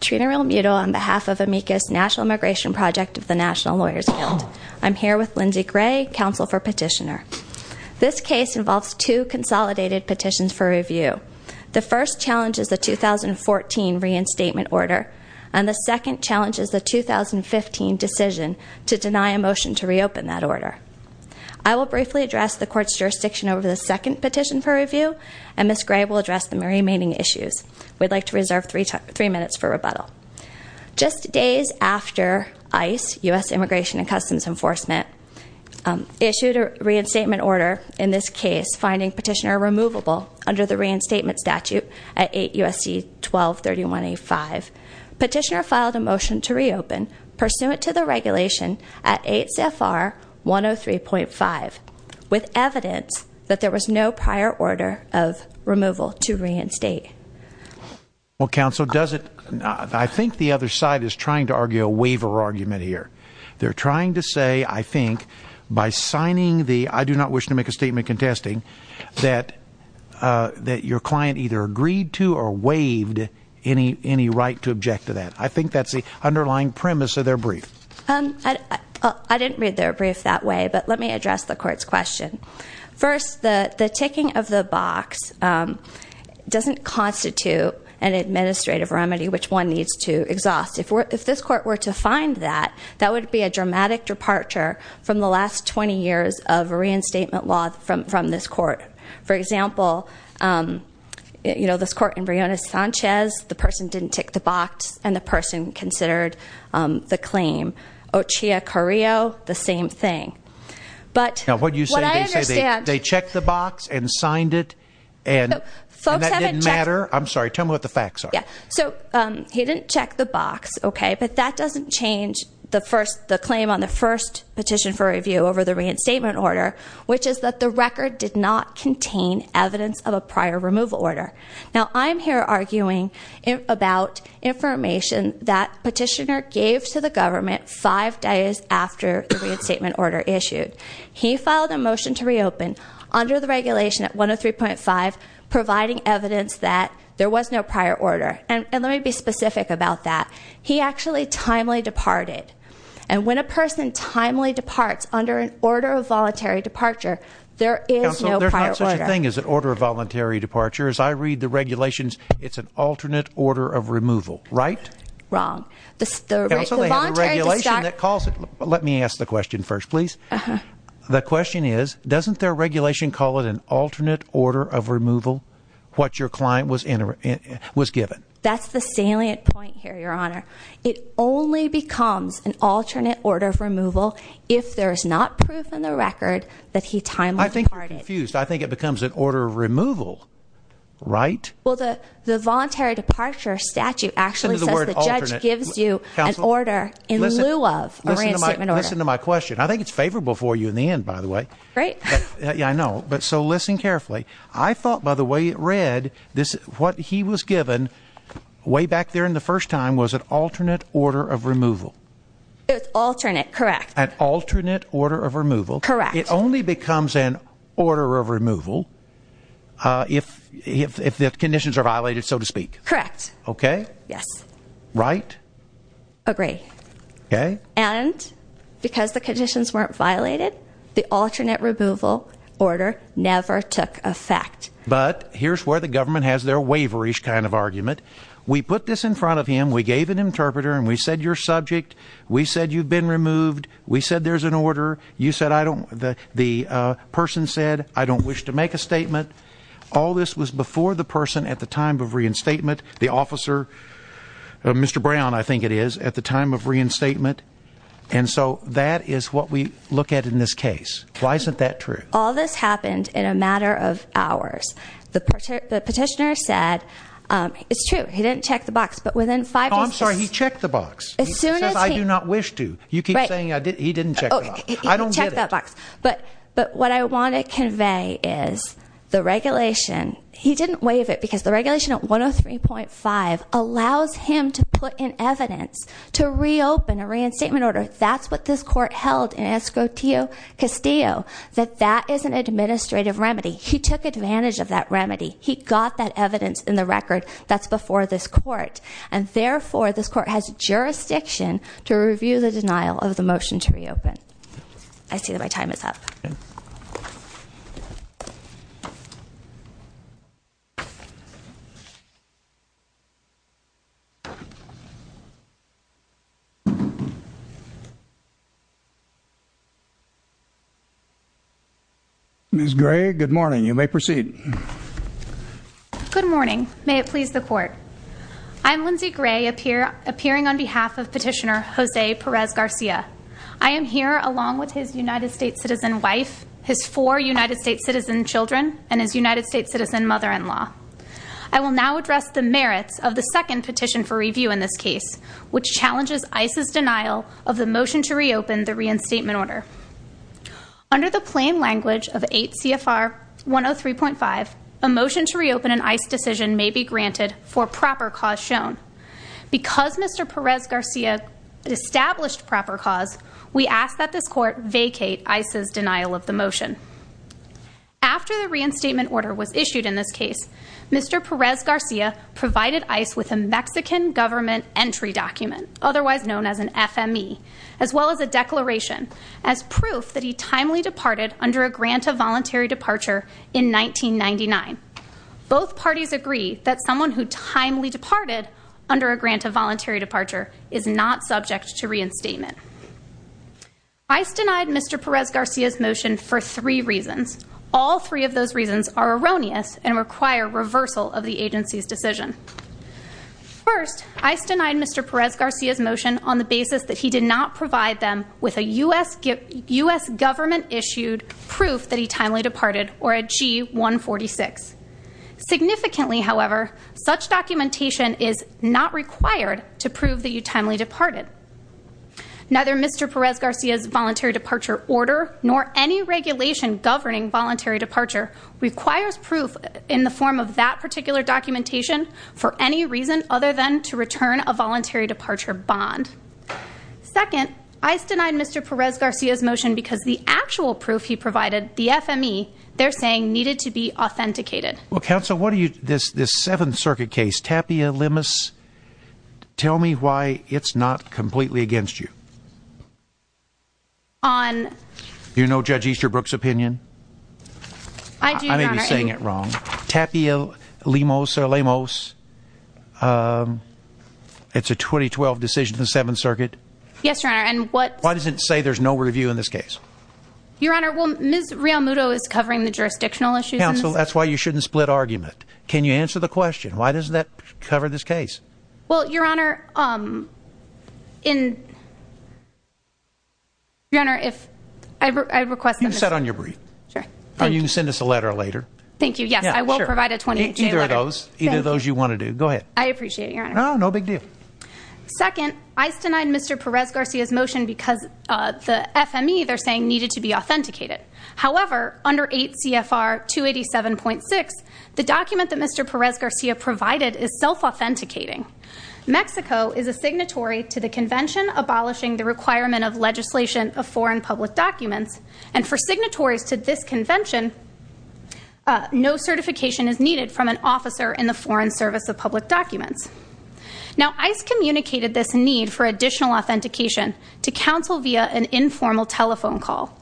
Trina Remutal on behalf of Amicus National Immigration Project of the National Lawyers Guild. I'm here with Lindsey Gray, counsel for petitioner. This case involves two consolidated petitions for review. The first challenges the 2014 reinstatement order, and the second challenges the 2015 decision to deny a motion to reopen that order. I will briefly address the court's jurisdiction over the second petition for review, and Ms. Gray will address the remaining issues. We'd like to reserve three minutes for rebuttal. Just days after ICE, U.S. Immigration and Customs Enforcement, issued a reinstatement order in this case, finding petitioner removable under the reinstatement statute at 8 U.S.C. 1231A5, petitioner filed a motion to reopen, pursuant to the regulation at 8 CFR 103.5, with evidence that there was no prior order of removal to reinstate. Well, counsel, does it, I think the other side is trying to argue a waiver argument here. They're trying to say, I think, by signing the, I do not wish to make a statement contesting, that your client either agreed to or waived any right to object to that. I think that's the underlying premise of their brief. I didn't read their brief that way, but let me address the court's question. First, the ticking of the box doesn't constitute an administrative remedy which one needs to exhaust. If this court were to find that, that would be a dramatic departure from the last 20 years of reinstatement law from this court. For example, this court in Briones-Sanchez, the person didn't tick the box, and the person considered the claim. Ochia Carrillo, the same thing. But what I understand- Now, what you say, they checked the box and signed it, and that didn't matter? I'm sorry, tell me what the facts are. Yeah, so he didn't check the box, okay? But that doesn't change the claim on the first petition for review over the reinstatement order, which is that the record did not contain evidence of a prior removal order. Now, I'm here arguing about information that petitioner gave to the government five days after the reinstatement order issued. He filed a motion to reopen under the regulation at 103.5, providing evidence that there was no prior order. And let me be specific about that. He actually timely departed. And when a person timely departs under an order of voluntary departure, there is no prior order. Counsel, there's not such a thing as an order of voluntary departure. As I read the regulations, it's an alternate order of removal, right? Wrong. Counsel, they have a regulation that calls it. Let me ask the question first, please. The question is, doesn't their regulation call it an alternate order of removal, what your client was given? That's the salient point here, Your Honor. It only becomes an alternate order of removal if there is not proof in the record that he timely departed. I think you're confused. I think it becomes an order of removal, right? Well, the voluntary departure statute actually says the judge gives you an order in lieu of a reinstatement order. Listen to my question. I think it's favorable for you in the end, by the way. Great. Yeah, I know. But so listen carefully. I thought by the way it read, what he was given way back there in the first time was an alternate order of removal. It's alternate, correct. An alternate order of removal. Correct. It only becomes an order of removal if the conditions are violated, so to speak. Correct. Okay? Yes. Right? Agree. Okay. And because the conditions weren't violated, the alternate removal order never took effect. But here's where the government has their waverish kind of argument. We put this in front of him. We gave an interpreter, and we said your subject. We said you've been removed. We said there's an order. The person said, I don't wish to make a statement. All this was before the person at the time of reinstatement. The officer, Mr. Brown, I think it is, at the time of reinstatement. And so that is what we look at in this case. Why isn't that true? All this happened in a matter of hours. The petitioner said, it's true. He didn't check the box. But within five days. Oh, I'm sorry. He checked the box. As soon as he. He says I do not wish to. You keep saying he didn't check the box. I don't get it. He checked that box. But what I want to convey is the regulation. He didn't waive it. Because the regulation at 103.5 allows him to put in evidence to reopen a reinstatement order. That's what this court held in Escoteo Castillo. That that is an administrative remedy. He took advantage of that remedy. He got that evidence in the record that's before this court. And therefore, this court has jurisdiction to review the denial of the motion to reopen. I see that my time is up. Ms. Gray, good morning. You may proceed. Good morning. May it please the court. I'm Lindsey Gray, appearing on behalf of petitioner Jose Perez Garcia. I am here along with his United States citizen wife, his four United States citizen children, and his United States citizen mother-in-law. I will now address the merits of the second petition for review in this case, which challenges ICE's denial of the motion to reopen the reinstatement order. Under the plain language of 8 CFR 103.5, a motion to reopen an ICE decision may be granted for proper cause shown. Because Mr. Perez Garcia established proper cause, we ask that this court vacate ICE's denial of the motion. After the reinstatement order was issued in this case, Mr. Perez Garcia provided ICE with a Mexican government entry document, otherwise known as an FME, as well as a declaration as proof that he timely departed under a grant of voluntary departure in 1999. Both parties agree that someone who timely departed under a grant of voluntary departure is not subject to reinstatement. ICE denied Mr. Perez Garcia's motion for three reasons. All three of those reasons are erroneous and require reversal of the agency's decision. First, ICE denied Mr. Perez Garcia's motion on the basis that he did not provide them with a US government issued proof that he timely departed or a G146. Significantly, however, such documentation is not required to prove that you timely departed. Neither Mr. Perez Garcia's voluntary departure order nor any regulation governing voluntary departure requires proof in the form of that particular documentation for any reason other than to return a voluntary departure bond. Second, ICE denied Mr. Perez Garcia's motion because the actual proof he provided, the FME, they're saying needed to be authenticated. Well, counsel, what do you, this, this Seventh Circuit case, Tapia-Lemos, tell me why it's not completely against you. On... Do you know Judge Easterbrook's opinion? I do, Your Honor. I may be saying it wrong. Tapia-Lemos, it's a 2012 decision in the Seventh Circuit. Yes, Your Honor, and what... Why does it say there's no review in this case? Your Honor, well, Ms. Rial-Mudo is covering the jurisdictional issues in this case. So that's why you shouldn't split argument. Can you answer the question? Why does that cover this case? Well, Your Honor, um, in... Your Honor, if I request... You can sit on your brief. Sure. Or you can send us a letter later. Thank you, yes, I will provide a 28-day letter. Either of those, either of those you want to do. Go ahead. I appreciate it, Your Honor. No, no big deal. Second, ICE denied Mr. Perez Garcia's motion because the FME, they're saying, needed to be authenticated. However, under 8 CFR 287.6, the document that Mr. Perez Garcia provided is self-authenticating. Mexico is a signatory to the convention abolishing the requirement of legislation of foreign public documents. And for signatories to this convention, no certification is needed from an officer in the Foreign Service of Public Documents. Now, ICE communicated this need for additional authentication to counsel via an informal telephone call.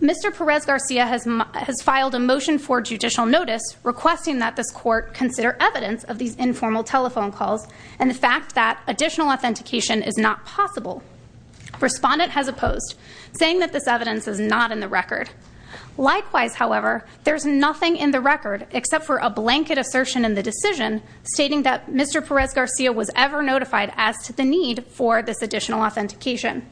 Mr. Perez Garcia has filed a motion for judicial notice requesting that this court consider evidence of these informal telephone calls and the fact that additional authentication is not possible. Respondent has opposed, saying that this evidence is not in the record. Likewise, however, there's nothing in the record except for a blanket assertion in the decision stating that Mr. Perez Garcia was ever notified as to the need for this additional authentication.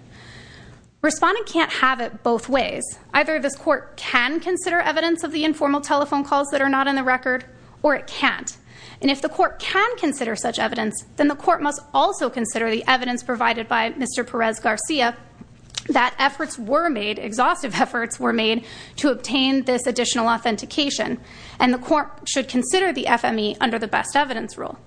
Respondent can't have it both ways. Either this court can consider evidence of the informal telephone calls that are not in the record, or it can't. And if the court can consider such evidence, then the court must also consider the evidence provided by Mr. Perez Garcia that efforts were made, exhaustive efforts were made, to obtain this additional authentication. And the court should consider the FME under the best evidence rule.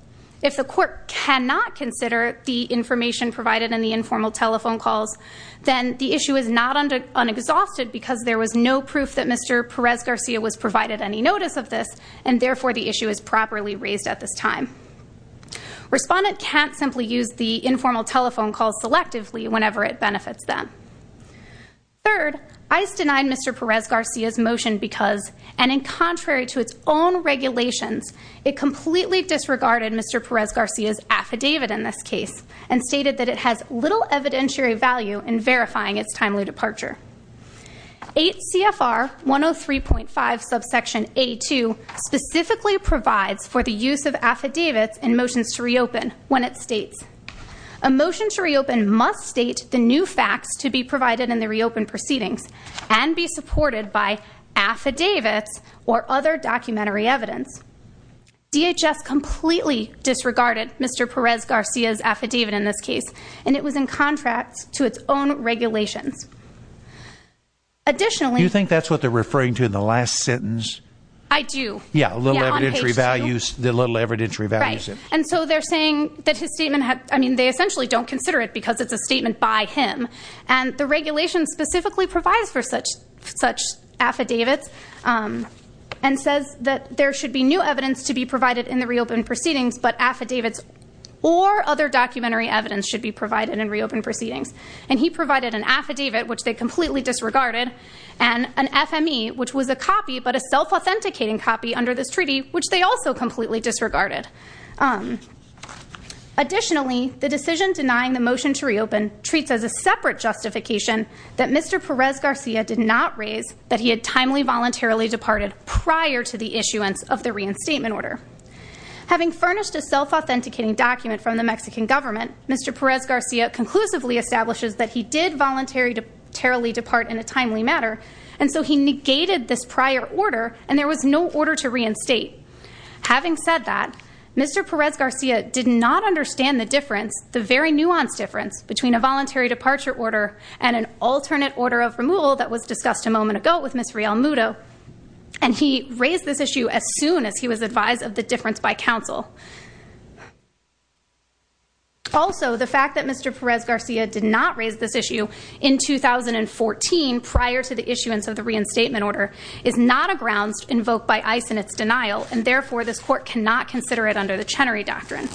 If the court cannot consider the information provided in the informal telephone calls, then the issue is not unexhausted because there was no proof that Mr. Perez Garcia was provided any notice of this, and therefore the issue is properly raised at this time. Respondent can't simply use the informal telephone call selectively whenever it benefits them. Third, ICE denied Mr. Perez Garcia's motion because, and in contrary to its own regulations, it completely disregarded Mr. Perez Garcia's affidavit in this case, and stated that it has little evidentiary value in verifying its timely departure. 8 CFR 103.5 subsection A2 specifically provides for the use of affidavits in motions to reopen when it states, a motion to reopen must state the new facts to be provided in the reopened proceedings, and be supported by affidavits or other documentary evidence. DHS completely disregarded Mr. Perez Garcia's affidavit in this case, and it was in contract to its own regulations. Additionally, Do you think that's what they're referring to in the last sentence? I do. Yeah, little evidentiary values, the little evidentiary values. Right, and so they're saying that his statement had, I mean, they essentially don't consider it because it's a statement by him. And the regulation specifically provides for such affidavits, and says that there should be new evidence to be provided in the reopened proceedings, but affidavits or other documentary evidence should be provided in reopened proceedings. And he provided an affidavit, which they completely disregarded, and an FME, which was a copy, but a self-authenticating copy under this treaty, which they also completely disregarded. Additionally, the decision denying the motion to reopen treats as a separate justification that Mr. Perez Garcia did not raise that he had timely voluntarily departed prior to the issuance of the reinstatement order. Having furnished a self-authenticating document from the Mexican government, Mr. Perez Garcia conclusively establishes that he did voluntarily depart in a timely manner, and so he negated this prior order, and there was no order to reinstate. Having said that, Mr. Perez Garcia did not understand the difference, the very nuanced difference, between a voluntary departure order and an alternate order of removal that was discussed a moment ago with Ms. Real Muto, and he raised this issue as soon as he was advised of the difference by counsel. Also, the fact that Mr. Perez Garcia did not raise this issue in 2014 prior to the issuance of the reinstatement order is not a grounds invoked by ICE in its denial, and therefore this court cannot consider it under the Chenery Doctrine.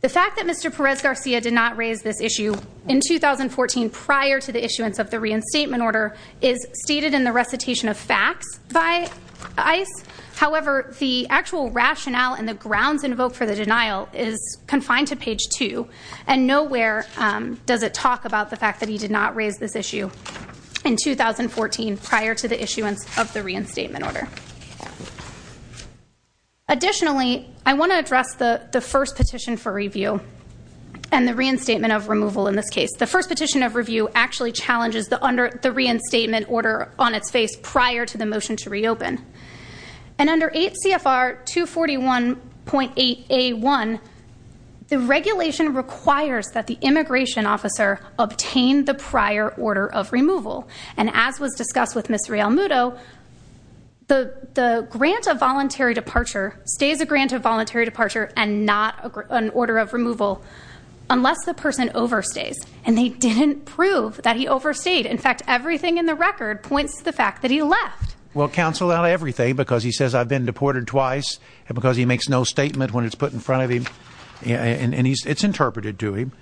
The fact that Mr. Perez Garcia did not raise this issue in 2014 prior to the issuance of the reinstatement order is stated in the recitation of facts by ICE. However, the actual rationale and the grounds invoked for the denial is confined to page 2, and nowhere does it talk about the fact that he did not raise this issue in 2014 prior to the issuance of the reinstatement order. Additionally, I want to address the first petition for review and the reinstatement of removal in this case. The first petition of review actually challenges the reinstatement order on its face prior to the motion to reopen, and under 8 CFR 241.8A1, the regulation requires that the immigration officer obtain the prior order of removal, and as was discussed with Ms. Realmuto, the grant of voluntary departure stays a grant of voluntary departure and not an order of removal unless the person overstays, and they didn't prove that he overstayed. In fact, everything in the record points to the fact that he left. Well, counsel, not everything, because he says, I've been deported twice, because he makes no statement when it's put in front of him, and it's interpreted to him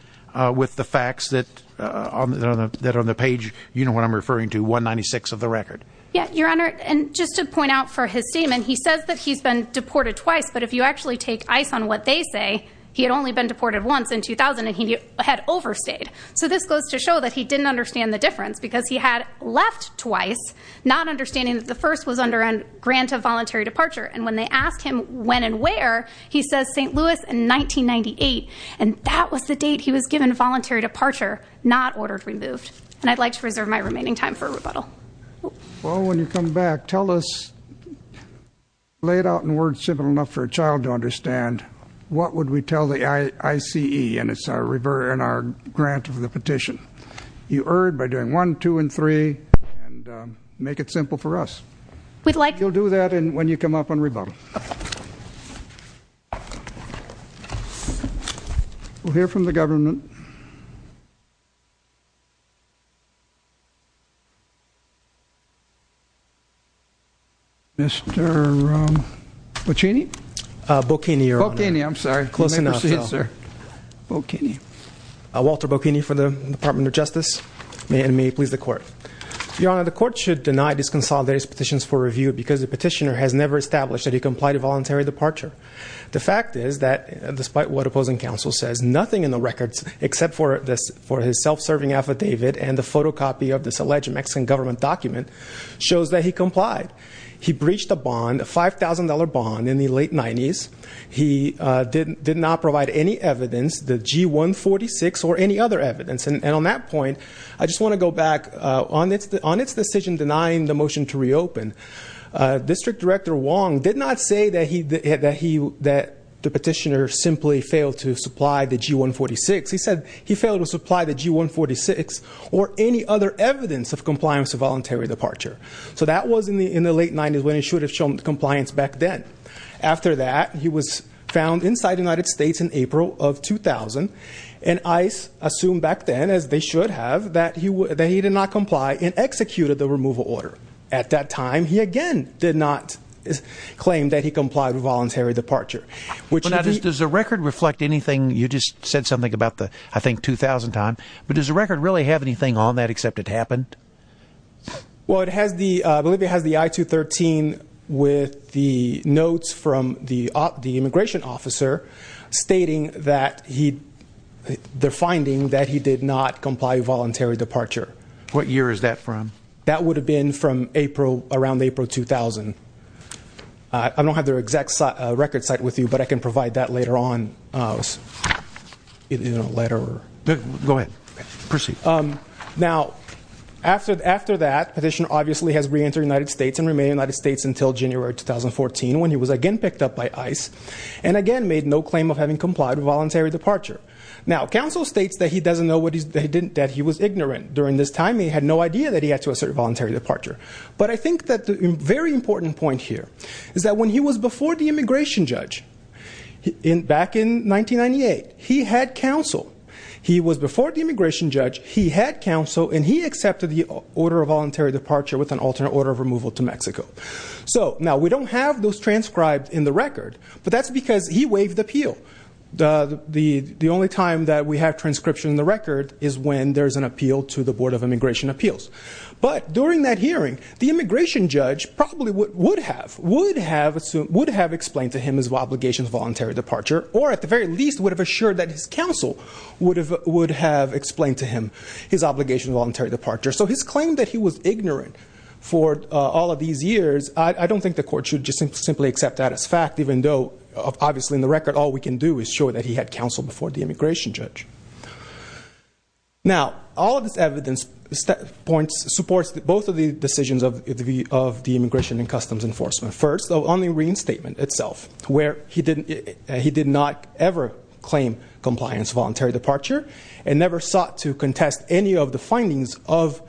with the facts that on the page, you know what I'm referring to, 196 of the record. Yeah, Your Honor, and just to point out for his statement, he says that he's been deported twice, but if you actually take ICE on what they say, he had only been deported once in 2000, and he had overstayed. So this goes to show that he didn't understand the difference, because he had left twice, not understanding that the first was under a grant of voluntary departure, and when they asked him when and where, he says St. Louis in 1998, and that was the date he was given voluntary departure, not order removed. And I'd like to reserve my remaining time for rebuttal. Well, when you come back, tell us, laid out in words simple enough for a child to understand, what would we tell the ICE, and it's our grant of the petition. You erred by doing one, two, and three, and make it simple for us. We'd like- You'll do that when you come up on rebuttal. We'll hear from the government. Mr. Bocchini? Bocchini, Your Honor. Bocchini, I'm sorry. You may proceed, sir. Bocchini. Walter Bocchini for the Department of Justice. May it please the court. Your Honor, the court should deny disconsolidated petitions for review because the petitioner has never established that he complied with voluntary departure. The fact is that despite what opposing counsel says, nothing in the records except for his self-serving affidavit and the photocopy of this alleged Mexican government document shows that he complied. He breached a bond, a $5,000 bond, in the late 90s. He did not provide any evidence, the G-146, or any other evidence. And on that point, I just want to go back. On its decision denying the motion to reopen, District Director Wong did not say that the petitioner simply failed to supply the G-146. He said he failed to supply the G-146 or any other evidence of compliance with voluntary departure. So that was in the late 90s when he should have shown compliance back then. After that, he was found inside the United States in April of 2000, and ICE assumed back then, as they should have, that he did not comply and executed the removal order. At that time, he again did not claim that he complied with voluntary departure. Now, does the record reflect anything? You just said something about the, I think, 2000 time. But does the record really have anything on that except it happened? Well, it has the, I believe it has the I-213 with the notes from the immigration officer stating that he, they're finding that he did not comply with voluntary departure. What year is that from? That would have been from April, around April 2000. I don't have their exact record site with you, but I can provide that later on in a letter. Go ahead. Proceed. Now, after that, petitioner obviously has re-entered the United States and remained in the United States until January 2014 when he was again picked up by ICE and again made no claim of having complied with voluntary departure. Now, counsel states that he doesn't know that he was ignorant during this time. He had no idea that he had to assert voluntary departure. But I think that the very important point here is that when he was before the immigration judge back in 1998, he had counsel. He was before the immigration judge, he had counsel, and he accepted the order of voluntary departure with an alternate order of removal to Mexico. So, now, we don't have those transcribed in the record, but that's because he waived appeal. The only time that we have transcription in the record is when there's an appeal to the Board of Immigration Appeals. But during that hearing, the immigration judge probably would have, would have explained to him his obligation of voluntary departure or, at the very least, would have assured that his counsel would have explained to him his obligation of voluntary departure. So, his claim that he was ignorant for all of these years, I don't think the court should just simply accept that as fact, even though, obviously, in the record, all we can do is show that he had counsel before the immigration judge. Now, all of this evidence supports both of the decisions of the Immigration and Customs Enforcement. First, on the reinstatement itself, where he did not ever claim compliance, voluntary departure, and never sought to contest any of the findings of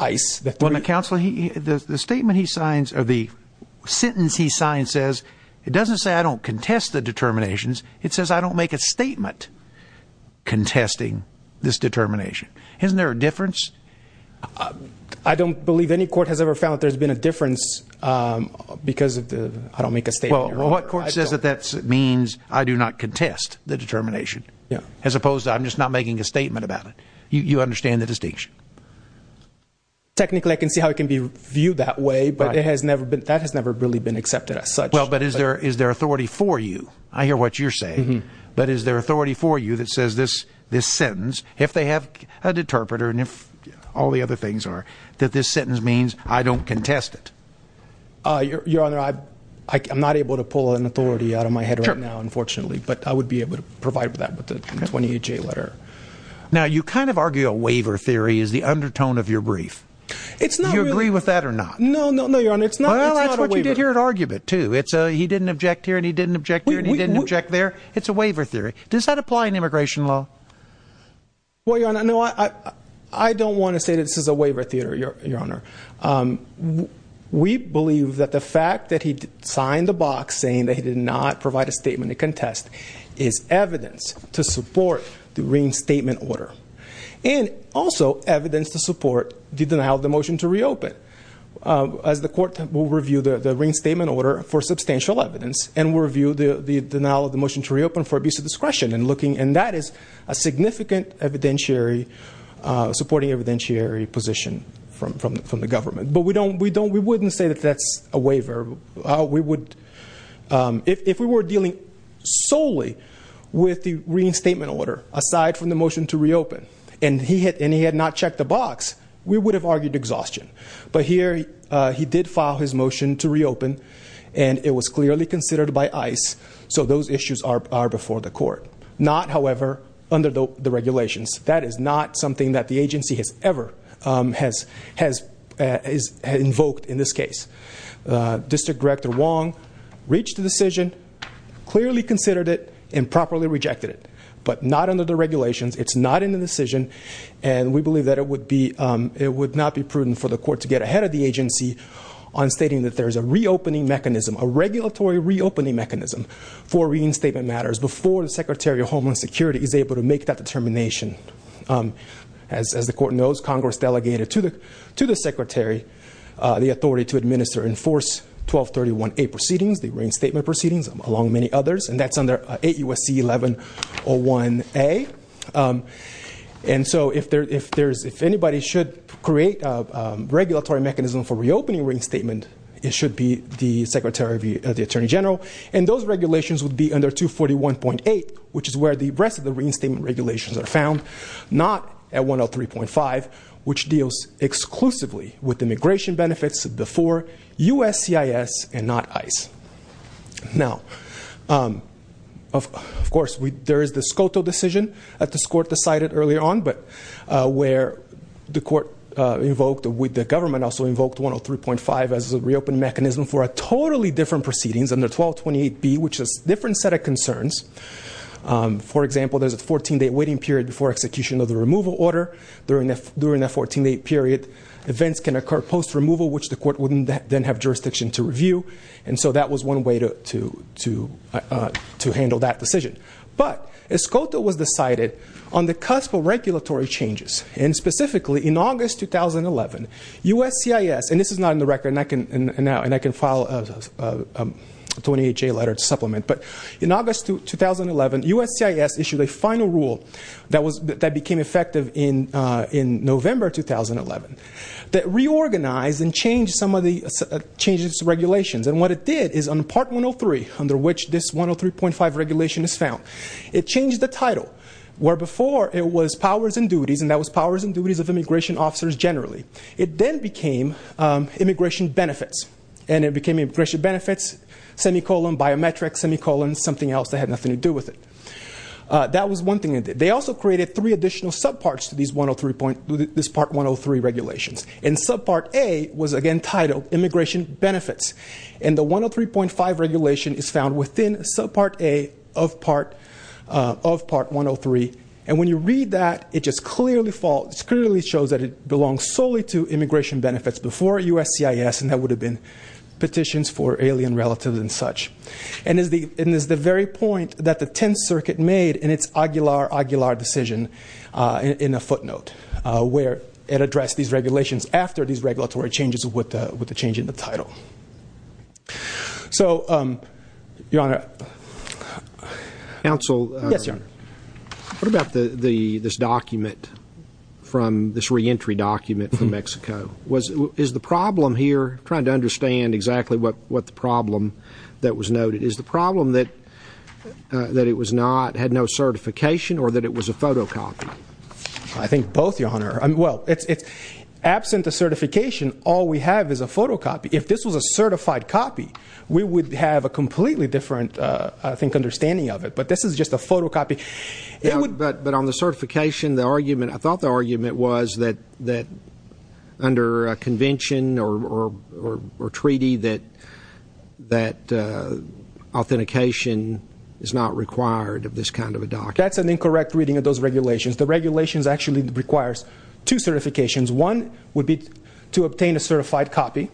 ICE. Well, now, counsel, the statement he signs or the sentence he signs says, it doesn't say, I don't contest the determinations. It says, I don't make a statement contesting this determination. Isn't there a difference? I don't believe any court has ever found that there's been a difference because of the, I don't make a statement. Well, what court says that that means, I do not contest the determination? Yeah. As opposed to, I'm just not making a statement about it. You understand the distinction? Technically, I can see how it can be viewed that way, but it has never been, that has never really been accepted as such. Well, but is there, is there authority for you? I hear what you're saying. But is there authority for you that says this, this sentence, if they have a deterpreter and if all the other things are, that this sentence means I don't contest it? Your Honor, I'm not able to pull an authority out of my head right now, unfortunately, but I would be able to provide for that with a 28-J letter. Now, you kind of argue a waiver theory is the undertone of your brief. It's not really. Do you agree with that or not? No, no, no, Your Honor, it's not a waiver. Well, that's what you did here at argument, too. It's a he didn't object here and he didn't object here and he didn't object there. It's a waiver theory. Does that apply in immigration law? Well, Your Honor, no, I don't want to say that this is a waiver theory, Your Honor. We believe that the fact that he signed the box saying that he did not provide a statement to contest is evidence to support the reinstatement order and also evidence to support the denial of the motion to reopen. As the court will review the reinstatement order for substantial evidence and will review the denial of the motion to reopen for abuse of discretion. And that is a significant supporting evidentiary position from the government. But we wouldn't say that that's a waiver. If we were dealing solely with the reinstatement order aside from the motion to reopen and he had not checked the box, we would have argued exhaustion. But here he did file his motion to reopen and it was clearly considered by ICE. So those issues are before the court. Not, however, under the regulations. That is not something that the agency has ever invoked in this case. District Director Wong reached the decision, clearly considered it, and properly rejected it. But not under the regulations. It's not in the decision. And we believe that it would not be prudent for the court to get ahead of the agency on stating that there is a reopening mechanism, a regulatory reopening mechanism, for reinstatement matters before the Secretary of Homeland Security is able to make that determination. As the court knows, Congress delegated to the Secretary the authority to administer and enforce 1231A proceedings, the reinstatement proceedings, along with many others. And that's under 8 U.S.C. 1101A. And so if anybody should create a regulatory mechanism for reopening reinstatement, it should be the Secretary of the Attorney General. And those regulations would be under 241.8, which is where the rest of the reinstatement regulations are found, not at 103.5, which deals exclusively with immigration benefits before U.S.C.I.S. and not ICE. Now, of course, there is the SCOTO decision that this court decided earlier on, but where the court invoked, with the government also invoked 103.5 as a reopening mechanism for a totally different proceedings under 1228B, which is a different set of concerns. For example, there's a 14-day waiting period before execution of the removal order. During that 14-day period, events can occur post-removal, which the court wouldn't then have jurisdiction to review. And so that was one way to handle that decision. But SCOTO was decided on the cusp of regulatory changes. And specifically, in August 2011, U.S.C.I.S. And this is not in the record, and I can file a 28-J letter to supplement. But in August 2011, U.S.C.I.S. issued a final rule that became effective in November 2011 that reorganized and changed some of the changes to regulations. And what it did is, on Part 103, under which this 103.5 regulation is found, it changed the title, where before it was powers and duties, and that was powers and duties of immigration officers generally. It then became immigration benefits, and it became immigration benefits, semicolon, biometrics, semicolon, something else that had nothing to do with it. That was one thing it did. They also created three additional subparts to this Part 103 regulations. And Subpart A was, again, titled Immigration Benefits. And the 103.5 regulation is found within Subpart A of Part 103. And when you read that, it just clearly shows that it belongs solely to immigration benefits before U.S.C.I.S., and that would have been petitions for alien relatives and such. And it's the very point that the Tenth Circuit made in its Aguilar-Aguilar decision in a footnote, where it addressed these regulations after these regulatory changes with the change in the title. So, Your Honor. Counsel. Yes, Your Honor. Is the problem here, trying to understand exactly what the problem that was noted, is the problem that it had no certification or that it was a photocopy? I think both, Your Honor. Well, absent a certification, all we have is a photocopy. If this was a certified copy, we would have a completely different, I think, understanding of it. But this is just a photocopy. But on the certification, I thought the argument was that under a convention or treaty, that authentication is not required of this kind of a document. That's an incorrect reading of those regulations. The regulations actually require two certifications. One would be to obtain a certified copy.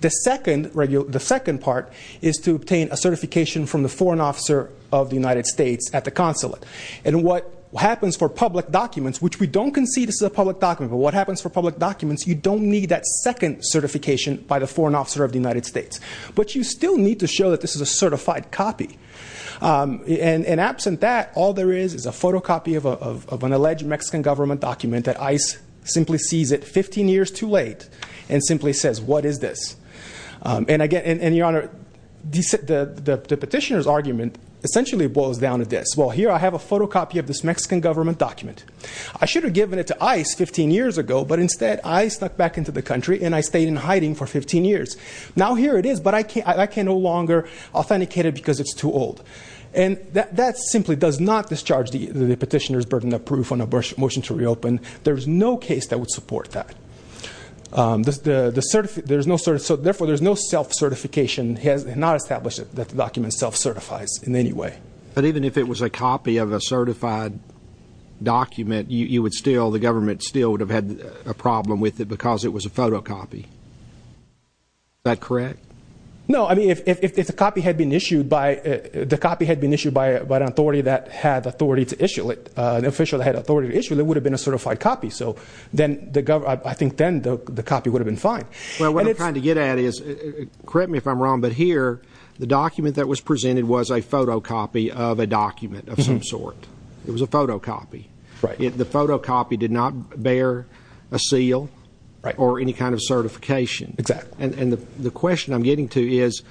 The second part is to obtain a certification from the Foreign Officer of the United States at the consulate. And what happens for public documents, which we don't concede this is a public document, but what happens for public documents, you don't need that second certification by the Foreign Officer of the United States. But you still need to show that this is a certified copy. And absent that, all there is is a photocopy of an alleged Mexican government document that ICE simply sees it 15 years too late and simply says, what is this? And, Your Honor, the petitioner's argument essentially boils down to this. Well, here I have a photocopy of this Mexican government document. I should have given it to ICE 15 years ago, but instead ICE snuck back into the country, and I stayed in hiding for 15 years. Now here it is, but I can no longer authenticate it because it's too old. And that simply does not discharge the petitioner's burden of proof on a motion to reopen. There is no case that would support that. Therefore, there is no self-certification, not established that the document self-certifies in any way. But even if it was a copy of a certified document, you would still, the government still would have had a problem with it because it was a photocopy. Is that correct? No. I mean, if the copy had been issued by an authority that had authority to issue it, an official that had authority to issue it, it would have been a certified copy. So I think then the copy would have been fine. Well, what I'm trying to get at is, correct me if I'm wrong, but here the document that was presented was a photocopy of a document of some sort. It was a photocopy. The photocopy did not bear a seal or any kind of certification. Exactly. And the question I'm getting to is,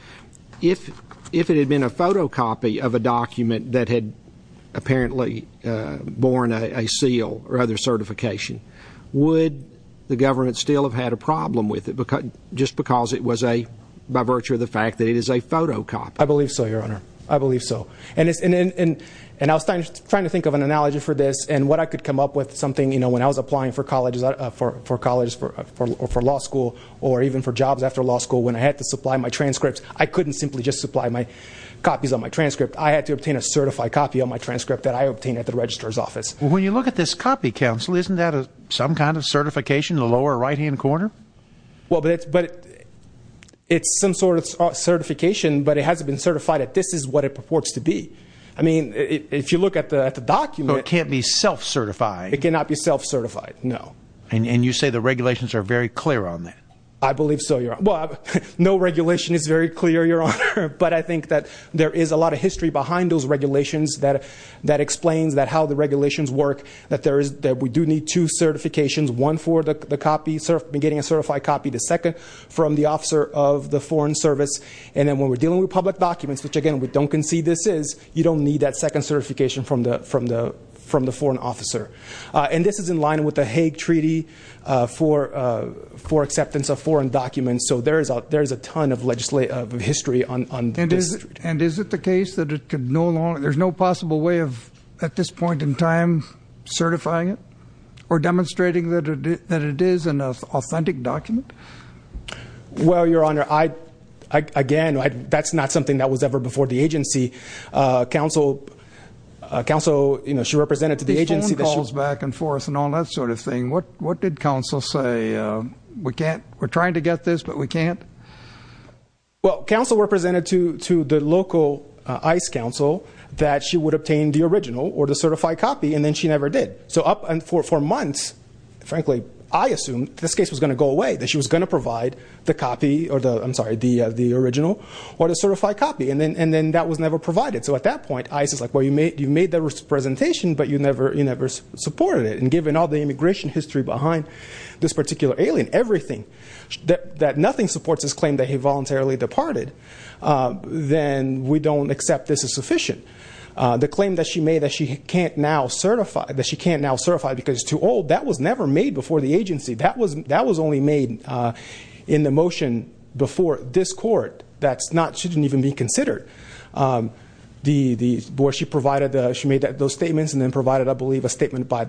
if it had been a photocopy of a document that had apparently borne a seal or other certification, would the government still have had a problem with it just because it was a, by virtue of the fact that it is a photocopy? I believe so, Your Honor. I believe so. And I was trying to think of an analogy for this. And what I could come up with is something, you know, when I was applying for colleges or for law school or even for jobs after law school, when I had to supply my transcripts, I couldn't simply just supply copies of my transcript. I had to obtain a certified copy of my transcript that I obtained at the registrar's office. When you look at this copy, counsel, isn't that some kind of certification in the lower right-hand corner? Well, but it's some sort of certification, but it hasn't been certified that this is what it purports to be. I mean, if you look at the document. But it can't be self-certified. It cannot be self-certified, no. And you say the regulations are very clear on that. I believe so, Your Honor. Well, no regulation is very clear, Your Honor, but I think that there is a lot of history behind those regulations that explains how the regulations work, that we do need two certifications, one for the copy, getting a certified copy, the second from the officer of the Foreign Service. And then when we're dealing with public documents, which, again, we don't concede this is, you don't need that second certification from the foreign officer. And this is in line with the Hague Treaty for acceptance of foreign documents, so there is a ton of history on this. And is it the case that there's no possible way of, at this point in time, certifying it or demonstrating that it is an authentic document? Well, Your Honor, again, that's not something that was ever before the agency. Counsel, you know, she represented to the agency. These phone calls back and forth and all that sort of thing. What did counsel say? We're trying to get this, but we can't? Well, counsel represented to the local ICE counsel that she would obtain the original or the certified copy, and then she never did. So for months, frankly, I assumed this case was going to go away, that she was going to provide the original or the certified copy, and then that was never provided. So at that point, ICE is like, well, you made the presentation, but you never supported it. And given all the immigration history behind this particular alien, everything, that nothing supports his claim that he voluntarily departed, then we don't accept this is sufficient. The claim that she made that she can't now certify because it's too old, that was never made before the agency. That was only made in the motion before this court. That's not, she didn't even be considered. She made those statements and then provided, I believe, a statement by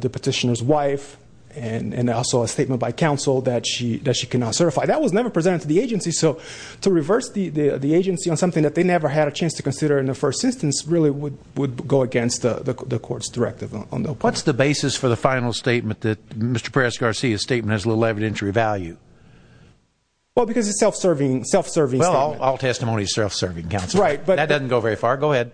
the petitioner's wife and also a statement by counsel that she cannot certify. That was never presented to the agency. So to reverse the agency on something that they never had a chance to consider in the first instance really would go against the court's directive. What's the basis for the final statement that Mr. Perez-Garcia's statement has little evidentiary value? Well, because it's a self-serving statement. Well, all testimony is self-serving, counsel. That doesn't go very far. Go ahead.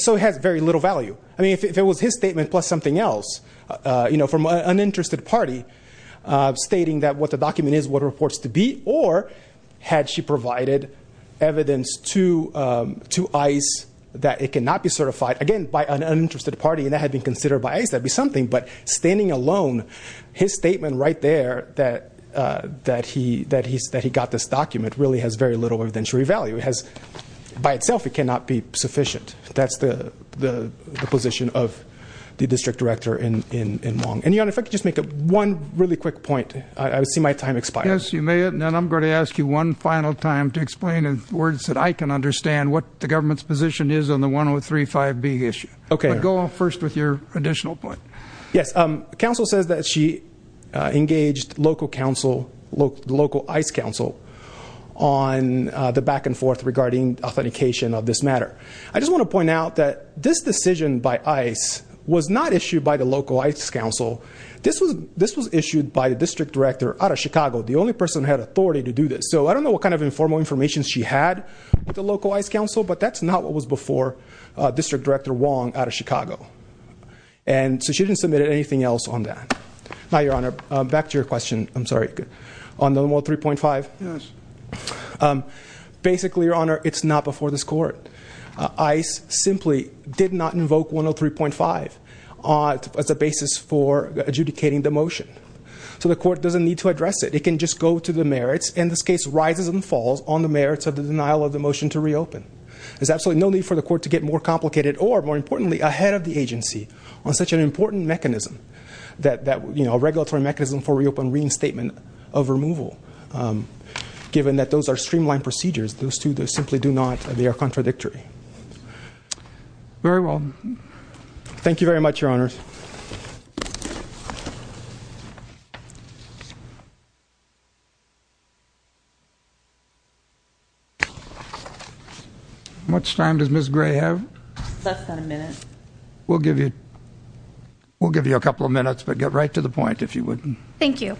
So it has very little value. I mean, if it was his statement plus something else from an uninterested party stating that what the document is, what it reports to be, or had she provided evidence to ICE that it cannot be certified, again, by an uninterested party and that had been considered by ICE, that would be something. But standing alone, his statement right there that he got this document really has very little evidentiary value. By itself, it cannot be sufficient. That's the position of the district director in Wong. And, Your Honor, if I could just make one really quick point. I see my time expiring. Yes, you may. And then I'm going to ask you one final time to explain in words that I can understand what the government's position is on the 1035B issue. Okay. But go first with your additional point. Yes. Counsel says that she engaged local ICE counsel on the back and forth regarding authentication of this matter. I just want to point out that this decision by ICE was not issued by the local ICE counsel. This was issued by the district director out of Chicago, the only person who had authority to do this. So I don't know what kind of informal information she had with the local ICE counsel, but that's not what was before District Director Wong out of Chicago. And so she didn't submit anything else on that. Now, Your Honor, back to your question. I'm sorry. On No. 3.5? Yes. Basically, Your Honor, it's not before this court. ICE simply did not invoke 103.5 as a basis for adjudicating the motion. So the court doesn't need to address it. It can just go to the merits. And this case rises and falls on the merits of the denial of the motion to reopen. There's absolutely no need for the court to get more complicated or, more importantly, ahead of the agency on such an important mechanism, a regulatory mechanism for reopen reinstatement of removal. Given that those are streamlined procedures, those two simply do not, they are contradictory. Very well. Thank you very much, Your Honor. How much time does Ms. Gray have? Less than a minute. We'll give you a couple of minutes, but get right to the point if you wouldn't. Thank you.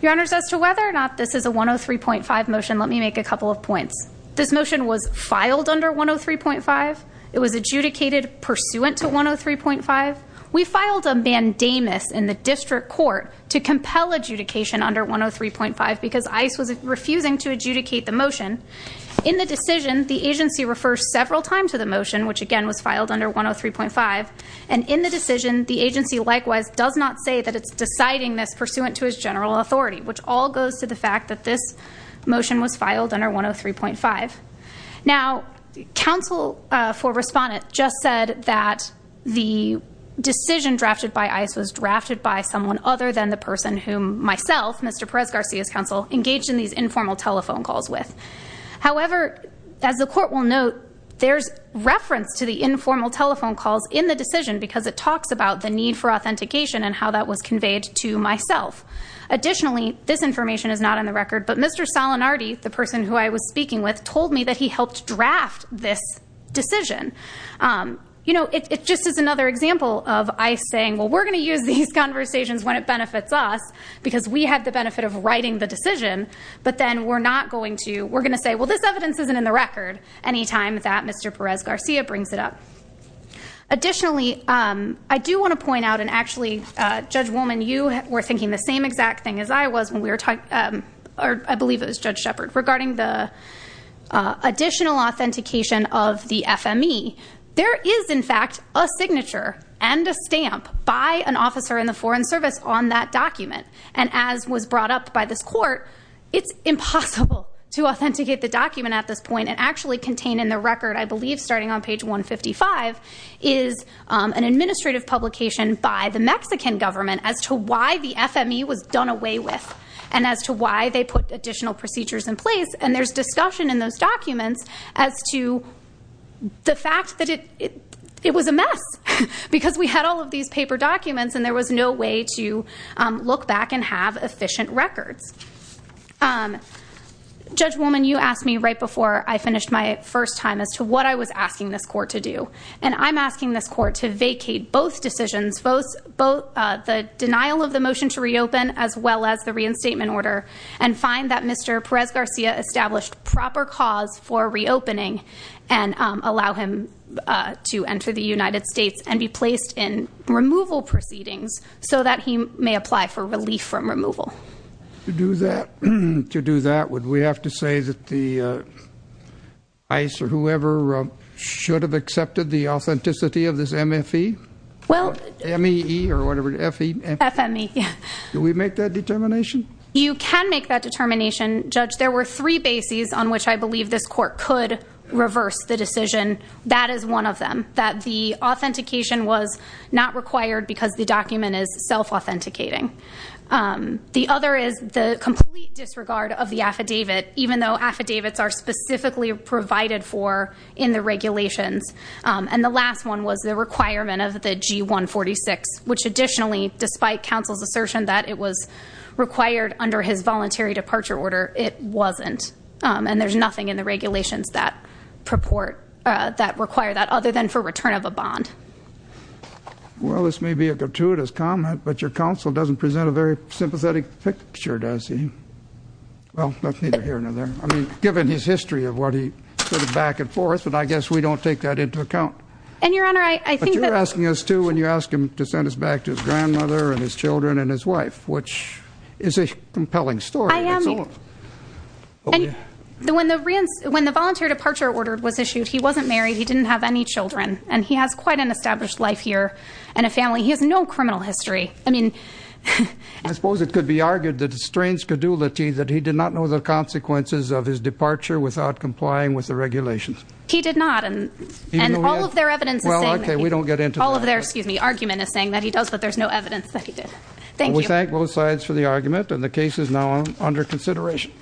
Your Honor, as to whether or not this is a 103.5 motion, let me make a couple of points. This motion was filed under 103.5. It was adjudicated pursuant to 103.5. We filed a mandamus in the district court to compel adjudication under 103.5 because ICE was refusing to adjudicate the motion. In the decision, the agency refers several times to the motion, which again was filed under 103.5. And in the decision, the agency likewise does not say that it's deciding this pursuant to its general authority, which all goes to the fact that this motion was filed under 103.5. Now, counsel for respondent just said that the decision drafted by ICE was drafted by someone other than the person whom myself, Mr. Perez-Garcia's counsel, engaged in these informal telephone calls with. However, as the court will note, there's reference to the informal telephone calls in the decision because it talks about the need for authentication and how that was conveyed to myself. Additionally, this information is not on the record, but Mr. Salinardi, the person who I was speaking with, told me that he helped draft this decision. You know, it just is another example of ICE saying, well, we're going to use these conversations when it benefits us because we had the benefit of writing the decision, but then we're not going to, we're going to say, well, this evidence isn't in the record anytime that Mr. Perez-Garcia brings it up. Additionally, I do want to point out, and actually, Judge Woolman, you were thinking the same exact thing as I was when we were talking, or I believe it was Judge Shepard, regarding the additional authentication of the FME. There is, in fact, a signature and a stamp by an officer in the Foreign Service on that document, and as was brought up by this court, it's impossible to authenticate the document at this point and actually contain in the record, I believe, starting on page 155, is an administrative publication by the Mexican government as to why the FME was done away with and as to why they put additional procedures in place, and there's discussion in those documents as to the fact that it was a mess because we had all of these paper documents and there was no way to look back and have efficient records. Judge Woolman, you asked me right before I finished my first time as to what I was asking this court to do, and I'm asking this court to vacate both decisions, both the denial of the motion to reopen as well as the reinstatement order, and find that Mr. Perez-Garcia established proper cause for reopening and allow him to enter the United States and be placed in removal proceedings so that he may apply for relief from removal. To do that, would we have to say that ICE or whoever should have accepted the authenticity of this MFE? M-E-E or whatever, F-E? F-M-E. Do we make that determination? You can make that determination, Judge. There were three bases on which I believe this court could reverse the decision. That is one of them, that the authentication was not required because the document is self-authenticating. The other is the complete disregard of the affidavit, even though affidavits are specifically provided for in the regulations. And the last one was the requirement of the G-146, which additionally, despite counsel's assertion that it was required under his voluntary departure order, it wasn't. And there's nothing in the regulations that require that other than for return of a bond. Well, this may be a gratuitous comment, but your counsel doesn't present a very sympathetic picture, does he? Well, that's neither here nor there. I mean, given his history of what he sort of back and forth, but I guess we don't take that into account. And, Your Honor, I think that- But you're asking us to when you ask him to send us back to his grandmother and his children and his wife, which is a compelling story. I am- When the voluntary departure order was issued, he wasn't married, he didn't have any children, and he has quite an established life here and a family. He has no criminal history. I mean- I suppose it could be argued that it strains credulity that he did not know the consequences of his departure without complying with the regulations. He did not, and all of their evidence is saying- Well, okay, we don't get into that. All of their, excuse me, argument is saying that he does, but there's no evidence that he did. Thank you. We thank both sides for the argument, and the case is now under consideration.